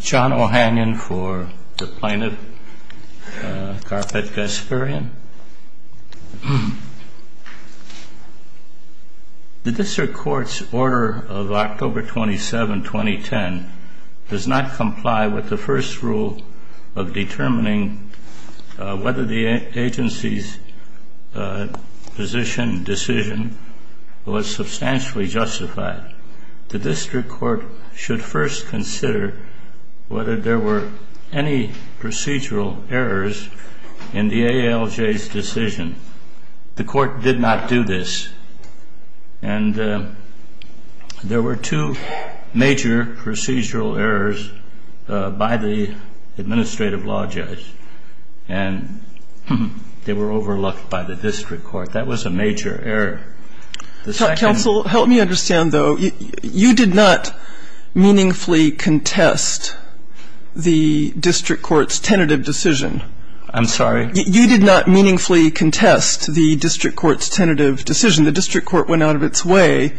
John O'Hanion for the Plaintiff, Karapet Gasparyan. The District Court's order of October 27, 2010, does not comply with the first rule of determining whether the agency's decision was substantially justified. The District Court should first consider whether there were any procedural errors in the ALJ's decision. The Court did not do this, and there were two major procedural errors by the Administrative Law Judge, and they were the first. The second procedural error was the matter of a waiver of a concession of a waiver, which was not a procedural error. The second... The second... Counsel, help me understand, though, you did not meaningfully contest the District Court's tentative decision. I'm sorry. You did not meaningfully contest the District Court's tentative decision. The District Court went out of its way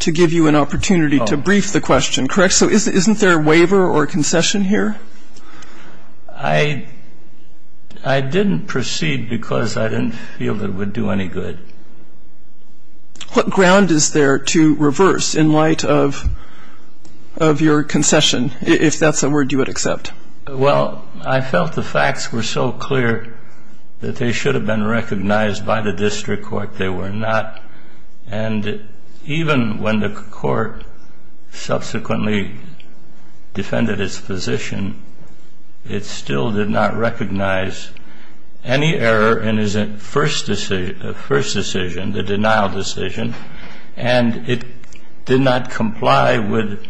to give you an opportunity to brief the question, correct? So isn't there a waiver or concession here? I didn't proceed because I didn't feel that it would do any good. What ground is there to reverse in light of your concession, if that's a word you would accept? Well, I felt the facts were so clear that they should have been recognized by the District Court. They were not. And even when the Court subsequently defended its position, it still did not recognize any error in its first decision, the denial decision, and it did not comply with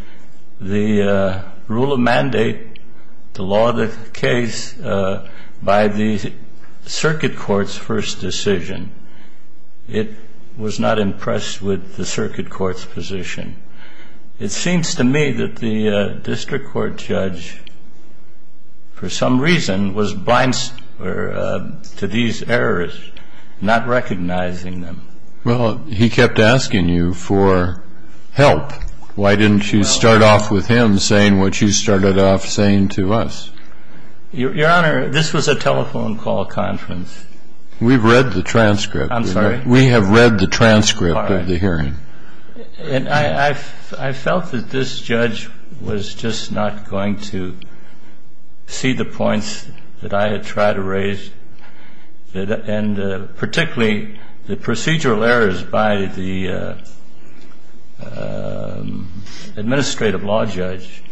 the rule of mandate, the law of the case, by the Circuit Court's first decision. It was not impressed with the Circuit Court's position. It seems to me that the District Court judge, for some reason, was blind to these errors, not recognizing them. Well, he kept asking you for help. Why didn't you start off with him saying what you started off saying to us? Your Honor, this was a telephone call conference. We've read the transcript. I'm sorry? We have read the transcript of the hearing. I felt that this judge was just not going to see the points that I had tried to raise, and particularly the procedural errors by the administrative law judge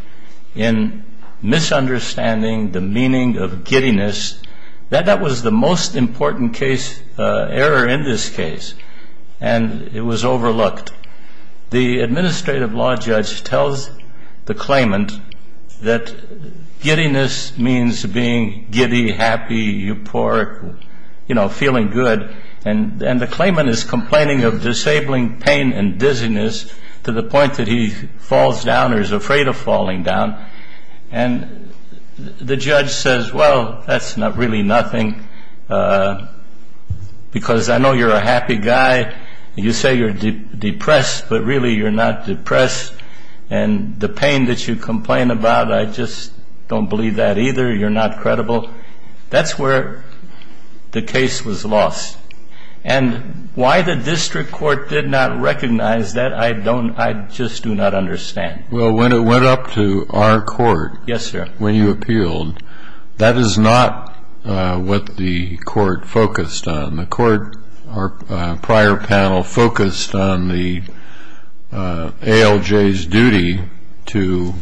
in misunderstanding the meaning of giddiness. That was the most important error in this case, and it was overlooked. The administrative law judge tells the claimant that giddiness means being giddy, happy, euphoric, you know, feeling good, and the claimant is complaining of disabling pain and dizziness to the point that he falls down or is afraid of falling down. And the judge says, well, that's really nothing because I know you're a happy guy. You say you're depressed, but really you're not depressed. And the pain that you complain about, I just don't believe that either. You're not credible. That's where the case was lost. And why the district court did not recognize that, I just do not understand. Well, when it went up to our court when you appealed, that is not what the court focused on. The court, our prior panel focused on the ALJ's duty to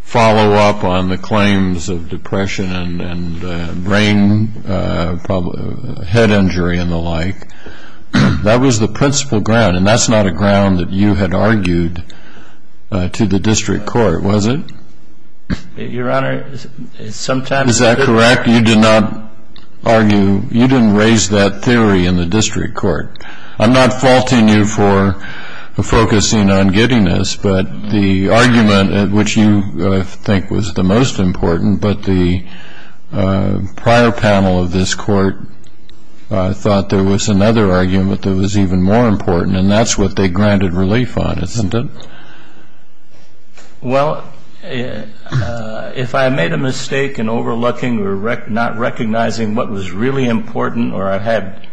follow up on the claims of depression and brain, head injury and the like. That was the principal ground, and that's not a ground that you had argued to the district court, was it? Your Honor, sometimes I did. Is that correct? You did not argue, you didn't raise that theory in the district court. I'm not faulting you for focusing on getting this, but the argument which you think was the most important, but the prior panel of this court thought there was another argument that was even more important, and that's what they granted relief on, isn't it? Well, if I made a mistake in overlooking or not recognizing what was really important or I had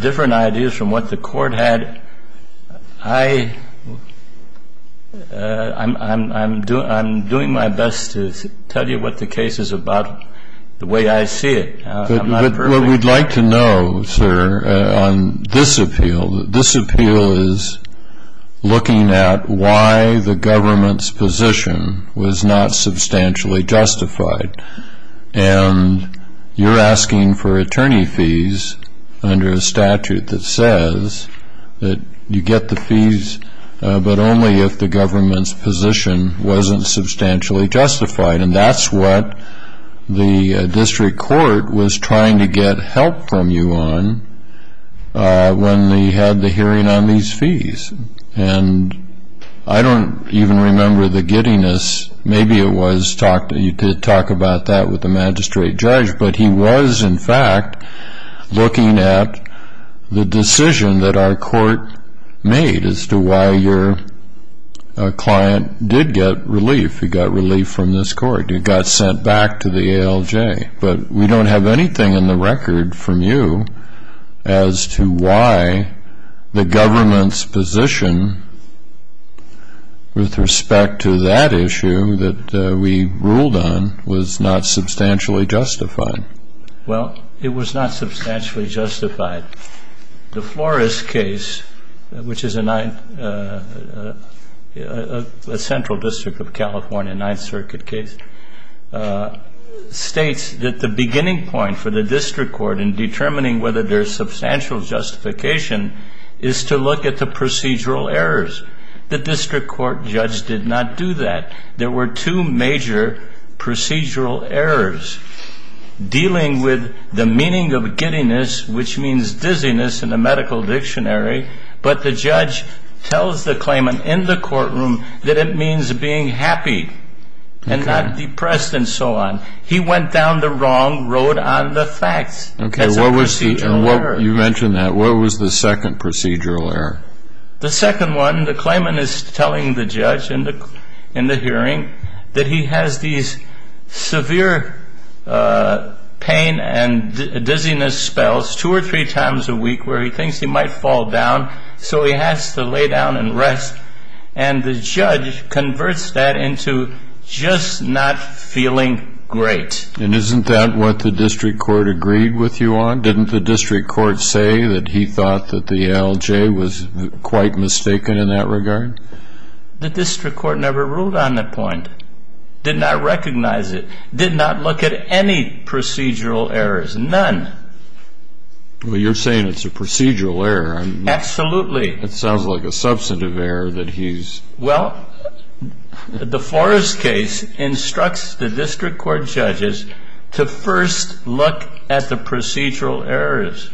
different ideas from what the court had, I'm doing my best to tell you what the case is about the way I see it. But what we'd like to know, sir, on this appeal, this appeal is looking at why the government's position was not substantially justified, and you're asking for attorney fees under a statute that says that you get the fees but only if the government's position wasn't substantially justified, and that's what the district court was trying to get help from you on when they had the hearing on these fees. And I don't even remember the giddiness. Maybe you could talk about that with the magistrate judge, but he was, in fact, looking at the decision that our court made as to why your client did get relief. If he got relief from this court, he got sent back to the ALJ. But we don't have anything in the record from you as to why the government's position with respect to that issue that we ruled on was not substantially justified. Well, it was not substantially justified. The Flores case, which is a central district of California Ninth Circuit case, states that the beginning point for the district court in determining whether there's substantial justification is to look at the procedural errors. The district court judge did not do that. There were two major procedural errors. Dealing with the meaning of giddiness, which means dizziness in the medical dictionary, but the judge tells the claimant in the courtroom that it means being happy and not depressed and so on. He went down the wrong road on the facts as a procedural error. You mentioned that. What was the second procedural error? The second one, the claimant is telling the judge in the hearing that he has these severe pain and dizziness spells two or three times a week where he thinks he might fall down, so he has to lay down and rest. And the judge converts that into just not feeling great. And isn't that what the district court agreed with you on? Didn't the district court say that he thought that the ALJ was quite mistaken in that regard? The district court never ruled on that point, did not recognize it, did not look at any procedural errors, none. Well, you're saying it's a procedural error. Absolutely. It sounds like a substantive error that he's... Well, the Forrest case instructs the district court judges to first look at the procedural errors.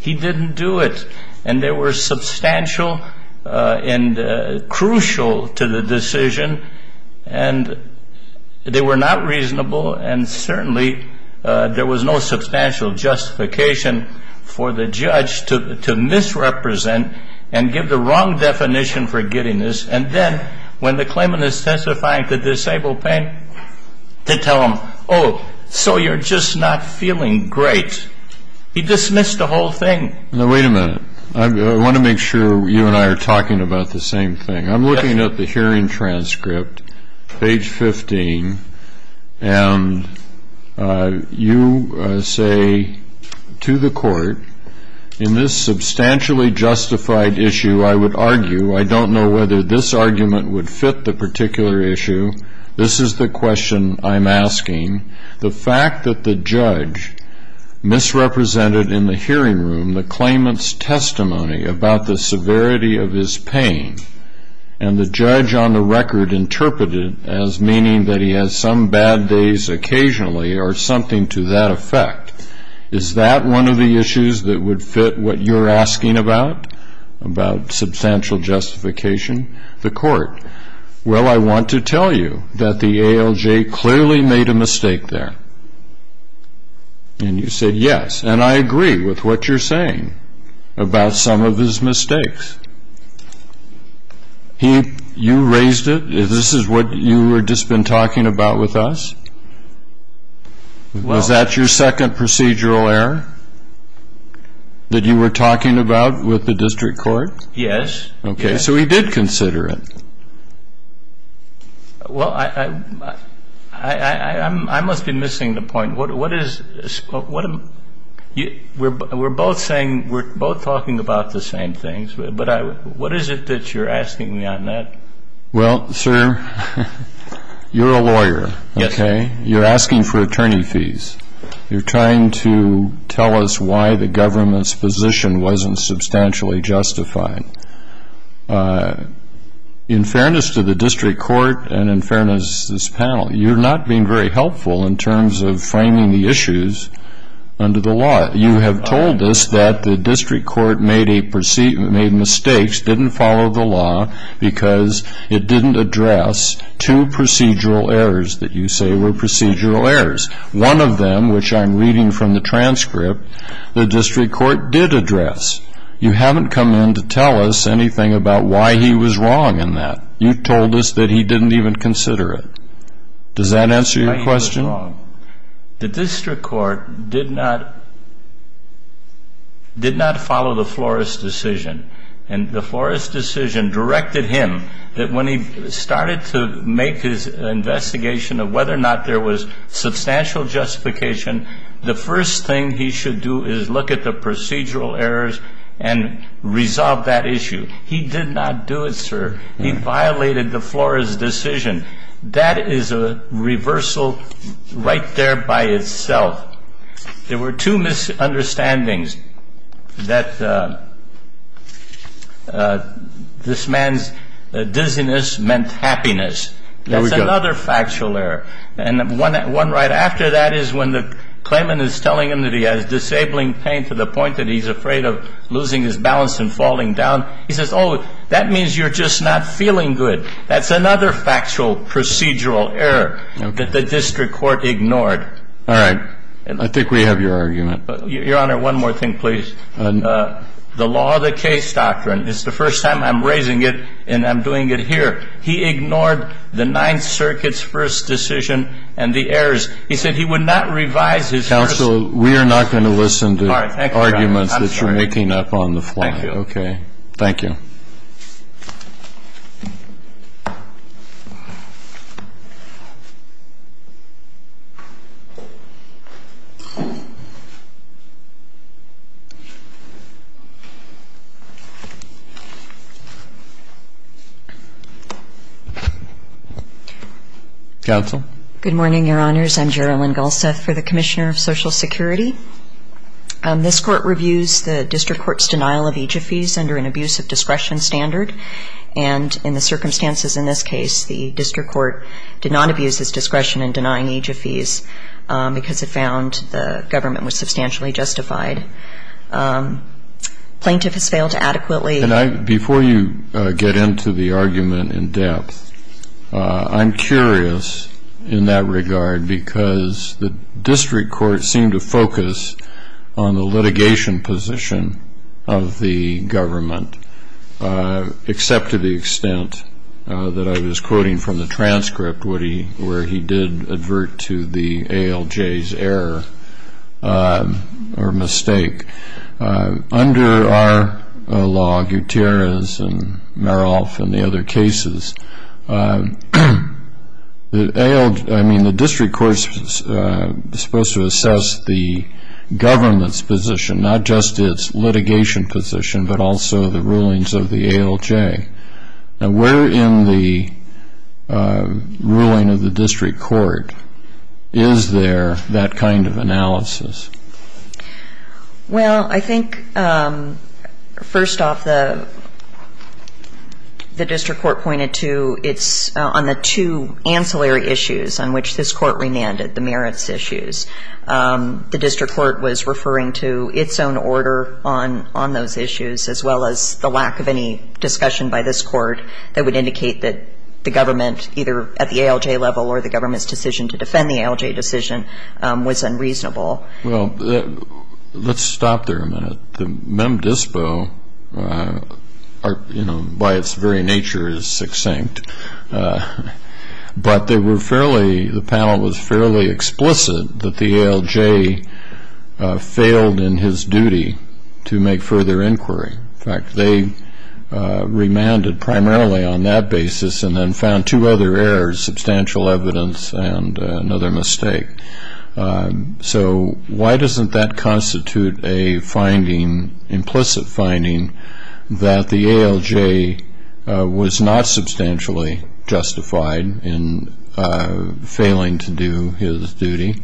He didn't do it, and they were substantial and crucial to the decision, and they were not reasonable, and certainly there was no substantial justification for the judge to misrepresent and give the wrong definition for getting this. And then when the claimant is testifying to disabled pain, they tell him, oh, so you're just not feeling great. He dismissed the whole thing. Now, wait a minute. I want to make sure you and I are talking about the same thing. I'm looking at the hearing transcript, page 15, and you say to the court, in this substantially justified issue, I would argue, I don't know whether this argument would fit the particular issue. This is the question I'm asking. The fact that the judge misrepresented in the hearing room the claimant's testimony about the severity of his pain, and the judge on the record interpreted it as meaning that he has some bad days occasionally or something to that effect, is that one of the issues that would fit what you're asking about, about substantial justification, the court? Well, I want to tell you that the ALJ clearly made a mistake there. And you said yes. And I agree with what you're saying about some of his mistakes. You raised it. This is what you had just been talking about with us? Was that your second procedural error that you were talking about with the district court? Yes. Okay. So he did consider it. Well, I must be missing the point. We're both talking about the same things. But what is it that you're asking me on that? Well, sir, you're a lawyer. Yes. You're asking for attorney fees. You're trying to tell us why the government's position wasn't substantially justified. In fairness to the district court and in fairness to this panel, you're not being very helpful in terms of framing the issues under the law. You have told us that the district court made mistakes, didn't follow the law, because it didn't address two procedural errors that you say were procedural errors. One of them, which I'm reading from the transcript, the district court did address. You haven't come in to tell us anything about why he was wrong in that. You told us that he didn't even consider it. Does that answer your question? The district court did not follow the Flores decision. And the Flores decision directed him that when he started to make his investigation of whether or not there was substantial justification, the first thing he should do is look at the procedural errors and resolve that issue. He did not do it, sir. He violated the Flores decision. That is a reversal right there by itself. There were two misunderstandings that this man's dizziness meant happiness. That's another factual error. And one right after that is when the claimant is telling him that he has disabling pain to the point that he's afraid of losing his balance and falling down. He says, oh, that means you're just not feeling good. That's another factual procedural error that the district court ignored. All right. I think we have your argument. Your Honor, one more thing, please. The law of the case doctrine, it's the first time I'm raising it and I'm doing it here. He ignored the Ninth Circuit's first decision and the errors. He said he would not revise his first. Counsel, we are not going to listen to arguments that you're making up on the fly. Thank you, Your Honor. I'm sorry. Thank you. Okay. Thank you. Counsel. Good morning, Your Honors. I'm Gerilyn Galseth for the Commissioner of Social Security. This court reviews the district court's denial of aegyphes under an abuse of discretion standard. And in the circumstances in this case, the district court did not abuse its discretion in denying aegyphes because it found the government was substantially justified. Plaintiff has failed to adequately. Before you get into the argument in depth, I'm curious in that regard because the district court seemed to focus on the litigation position of the government, except to the extent that I was quoting from the transcript where he did advert to the ALJ's error or mistake. Under our law, Gutierrez and Maroff and the other cases, I mean, the district court is supposed to assess the government's position, not just its litigation position, but also the rulings of the ALJ. Now, where in the ruling of the district court is there that kind of analysis? Well, I think first off, the district court pointed to it's on the two ancillary issues on which this court remanded, the merits issues. The district court was referring to its own order on those issues, as well as the lack of any discussion by this court that would indicate that the government, either at the ALJ level or the government's decision to defend the ALJ decision, was unreasonable. Well, let's stop there a minute. The mem dispo, by its very nature, is succinct, but the panel was fairly explicit that the ALJ failed in his duty to make further inquiry. In fact, they remanded primarily on that basis and then found two other errors, substantial evidence and another mistake. So why doesn't that constitute a finding, implicit finding, that the ALJ was not substantially justified in failing to do his duty,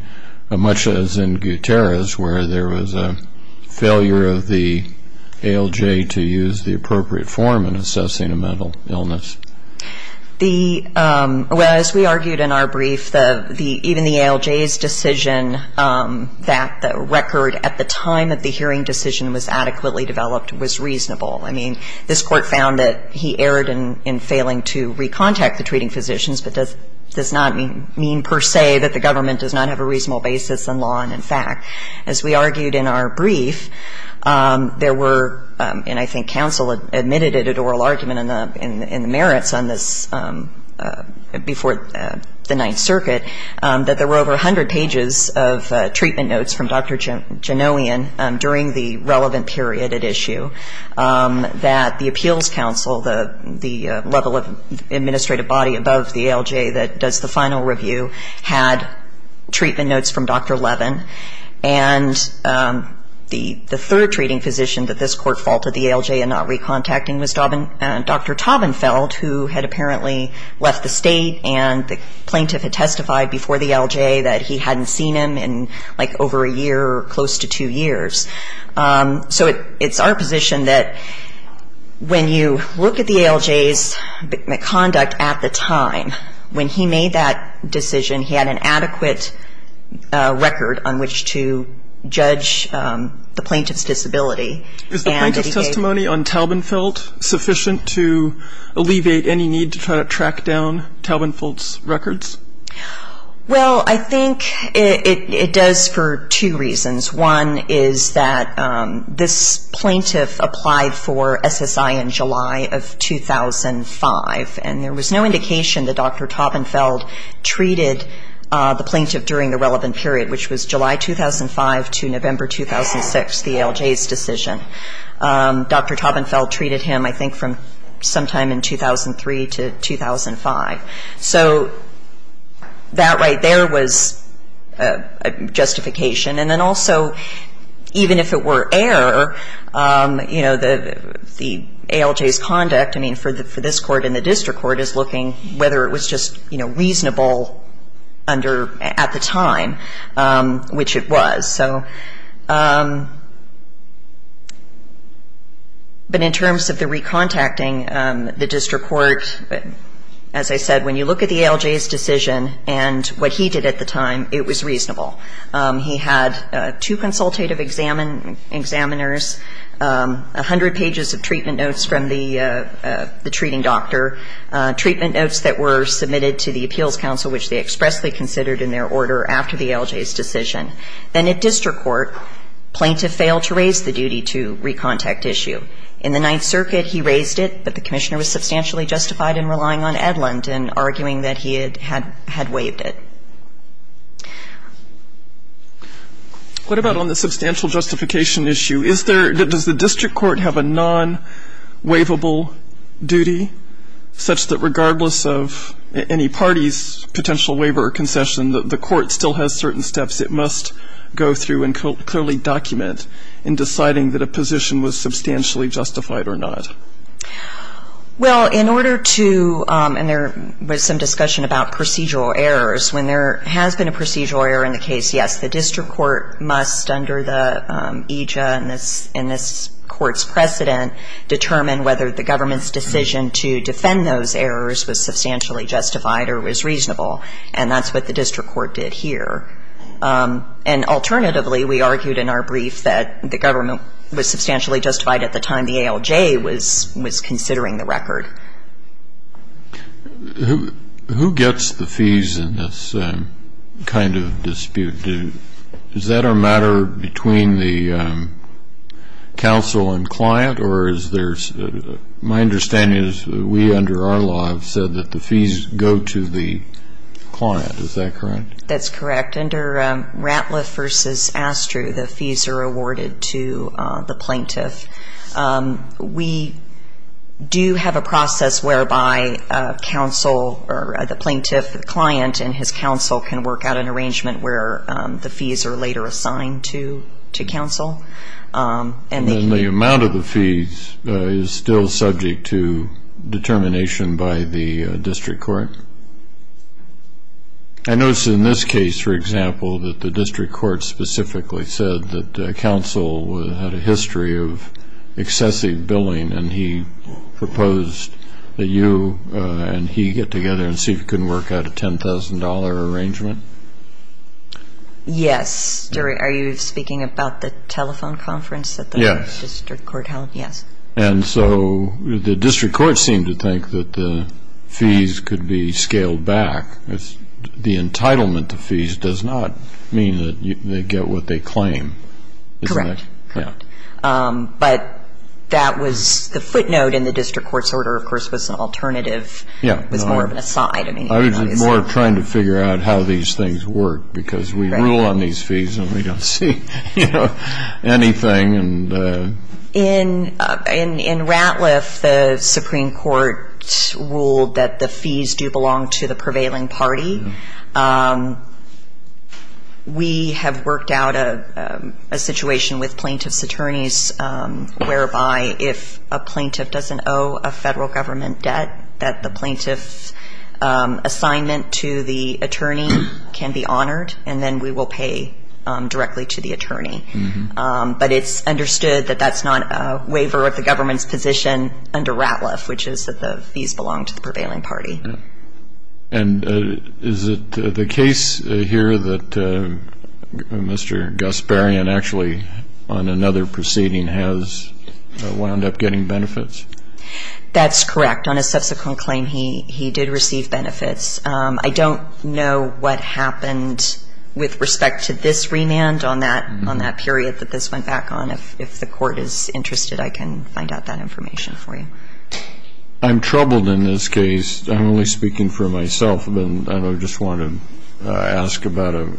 much as in Gutierrez where there was a failure of the ALJ to use the appropriate form in assessing a mental illness? Well, as we argued in our brief, even the ALJ's decision that the record at the time that the hearing decision was adequately developed was reasonable. I mean, this court found that he erred in failing to recontact the treating physicians, but does not mean per se that the government does not have a reasonable basis in law and in fact. As we argued in our brief, there were, and I think counsel admitted it at oral argument in the merits, on this before the Ninth Circuit, that there were over 100 pages of treatment notes from Dr. Janowian during the relevant period at issue that the appeals counsel, the level of administrative body above the ALJ that does the final review, had treatment notes from Dr. Levin. And the third treating physician that this court faulted the ALJ in not recontacting was Dr. Taubenfeld who had apparently left the state and the plaintiff had testified before the ALJ that he hadn't seen him in like over a year or close to two years. So it's our position that when you look at the ALJ's conduct at the time, when he made that decision, he had an adequate record on which to judge the plaintiff's disability. Is the plaintiff's testimony on Taubenfeld sufficient to alleviate any need to try to track down Taubenfeld's records? Well, I think it does for two reasons. One is that this plaintiff applied for SSI in July of 2005, and there was no indication that Dr. Taubenfeld treated the plaintiff during the relevant period, which was July 2005 to November 2006, the ALJ's decision. Dr. Taubenfeld treated him, I think, from sometime in 2003 to 2005. So that right there was a justification. And then also, even if it were error, you know, the ALJ's conduct, I mean, for this court and the district court is looking whether it was just, you know, reasonable under at the time, which it was. So but in terms of the recontacting, the district court, as I said, when you look at the ALJ's decision and what he did at the time, it was reasonable. He had two consultative examiners, 100 pages of treatment notes from the treating doctor, treatment notes that were submitted to the appeals council, which they expressly considered in their order after the ALJ's decision. Then at district court, plaintiff failed to raise the duty to recontact issue. In the Ninth Circuit, he raised it, but the commissioner was substantially justified in relying on Edlund and arguing that he had waived it. What about on the substantial justification issue? Is there, does the district court have a non-waivable duty such that regardless of any party's potential waiver or concession, the court still has certain steps it must go through and clearly document in deciding that a position was substantially justified or not? Well, in order to, and there was some discussion about procedural errors, when there has been a procedural error in the case, yes, the district court must, under the EJA and this court's precedent, determine whether the government's decision to defend those errors was substantially justified or was reasonable, and that's what the district court did here. And alternatively, we argued in our brief that the government was substantially justified at the time the ALJ was considering the record. Who gets the fees in this kind of dispute? Is that a matter between the counsel and client, or is there, my understanding is we, under our law, have said that the fees go to the client. Is that correct? That's correct. Under Ratliff v. Astru, the fees are awarded to the plaintiff. We do have a process whereby counsel, or the plaintiff, the client, and his counsel can work out an arrangement where the fees are later assigned to counsel. And the amount of the fees is still subject to determination by the district court. I notice in this case, for example, that the district court specifically said that counsel had a history of excessive billing, and he proposed that you and he get together and see if you can work out a $10,000 arrangement. Yes. Jerry, are you speaking about the telephone conference that the district court held? Yes. Yes. And so the district court seemed to think that the fees could be scaled back. The entitlement to fees does not mean that they get what they claim, does it? Correct. Correct. But that was the footnote, and the district court's order, of course, was an alternative. It was more of an aside. I was more trying to figure out how these things work because we rule on these fees and we don't see anything. In Ratliff, the Supreme Court ruled that the fees do belong to the prevailing party. We have worked out a situation with plaintiff's attorneys whereby if a plaintiff doesn't owe a federal government debt, that the plaintiff's assignment to the attorney can be honored, and then we will pay directly to the attorney. But it's understood that that's not a waiver of the government's position under Ratliff, which is that the fees belong to the prevailing party. And is it the case here that Mr. Gasparian actually on another proceeding has wound up getting benefits? That's correct. On a subsequent claim, he did receive benefits. I don't know what happened with respect to this remand on that period that this went back on. If the court is interested, I can find out that information for you. I'm troubled in this case. I'm only speaking for myself, and I just want to ask about a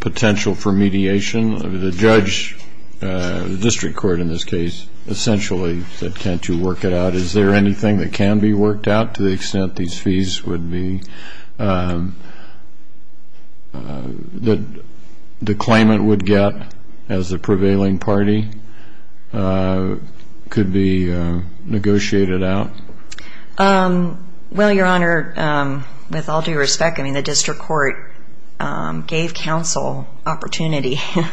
potential for mediation. The judge, the district court in this case, essentially said, can't you work it out? Is there anything that can be worked out to the extent these fees would be, that the claimant would get as the prevailing party could be negotiated out? Well, Your Honor, with all due respect, I mean, the district court gave counsel opportunity to...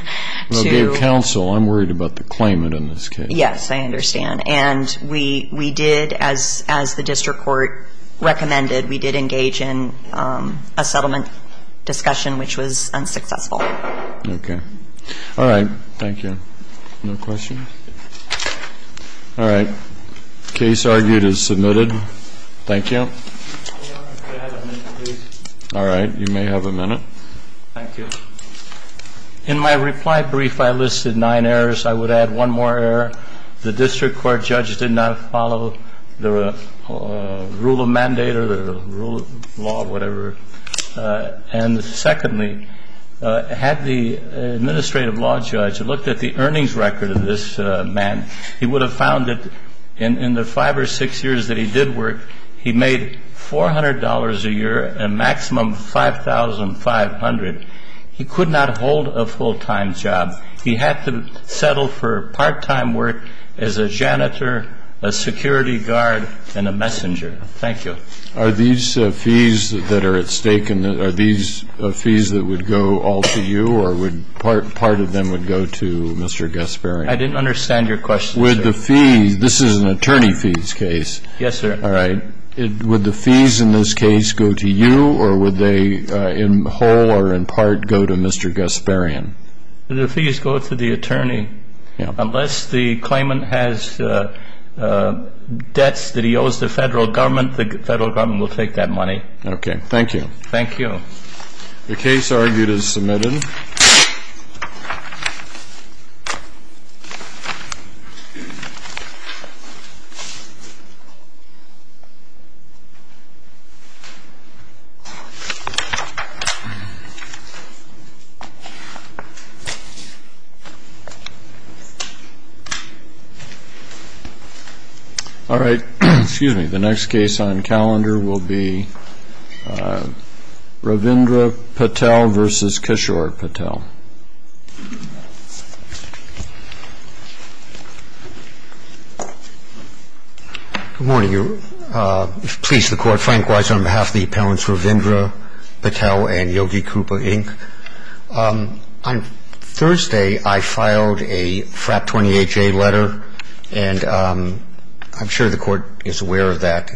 Well, gave counsel. I'm worried about the claimant in this case. Yes, I understand. And we did, as the district court recommended, we did engage in a settlement discussion, which was unsuccessful. Okay. All right. Thank you. No questions? All right. Case argued is submitted. Thank you. All right. You may have a minute. Thank you. In my reply brief, I listed nine errors. I would add one more error. The district court judge did not follow the rule of mandate or the rule of law or whatever. And secondly, had the administrative law judge looked at the earnings record of this man, he would have found that in the five or six years that he did work, he made $400 a year, a maximum of $5,500. He could not hold a full-time job. He had to settle for part-time work as a janitor, a security guard, and a messenger. Thank you. Are these fees that are at stake, are these fees that would go all to you, or would part of them would go to Mr. Gasparini? I didn't understand your question, sir. With the fees, this is an attorney fees case. Yes, sir. All right. Would the fees in this case go to you, or would they in whole or in part go to Mr. Gasparini? The fees go to the attorney. Unless the claimant has debts that he owes the Federal Government, the Federal Government will take that money. Okay. Thank you. Thank you. The case argued is submitted. All right. Excuse me. The next case on calendar will be Ravindra Patel v. Kishore Patel. Good morning. Please, the Court, Frank Weiser on behalf of the appellants Ravindra Patel and Yogi Krupa, Inc. On Thursday, I filed a FRAP 28-J letter, and I'm sure the Court is aware of that.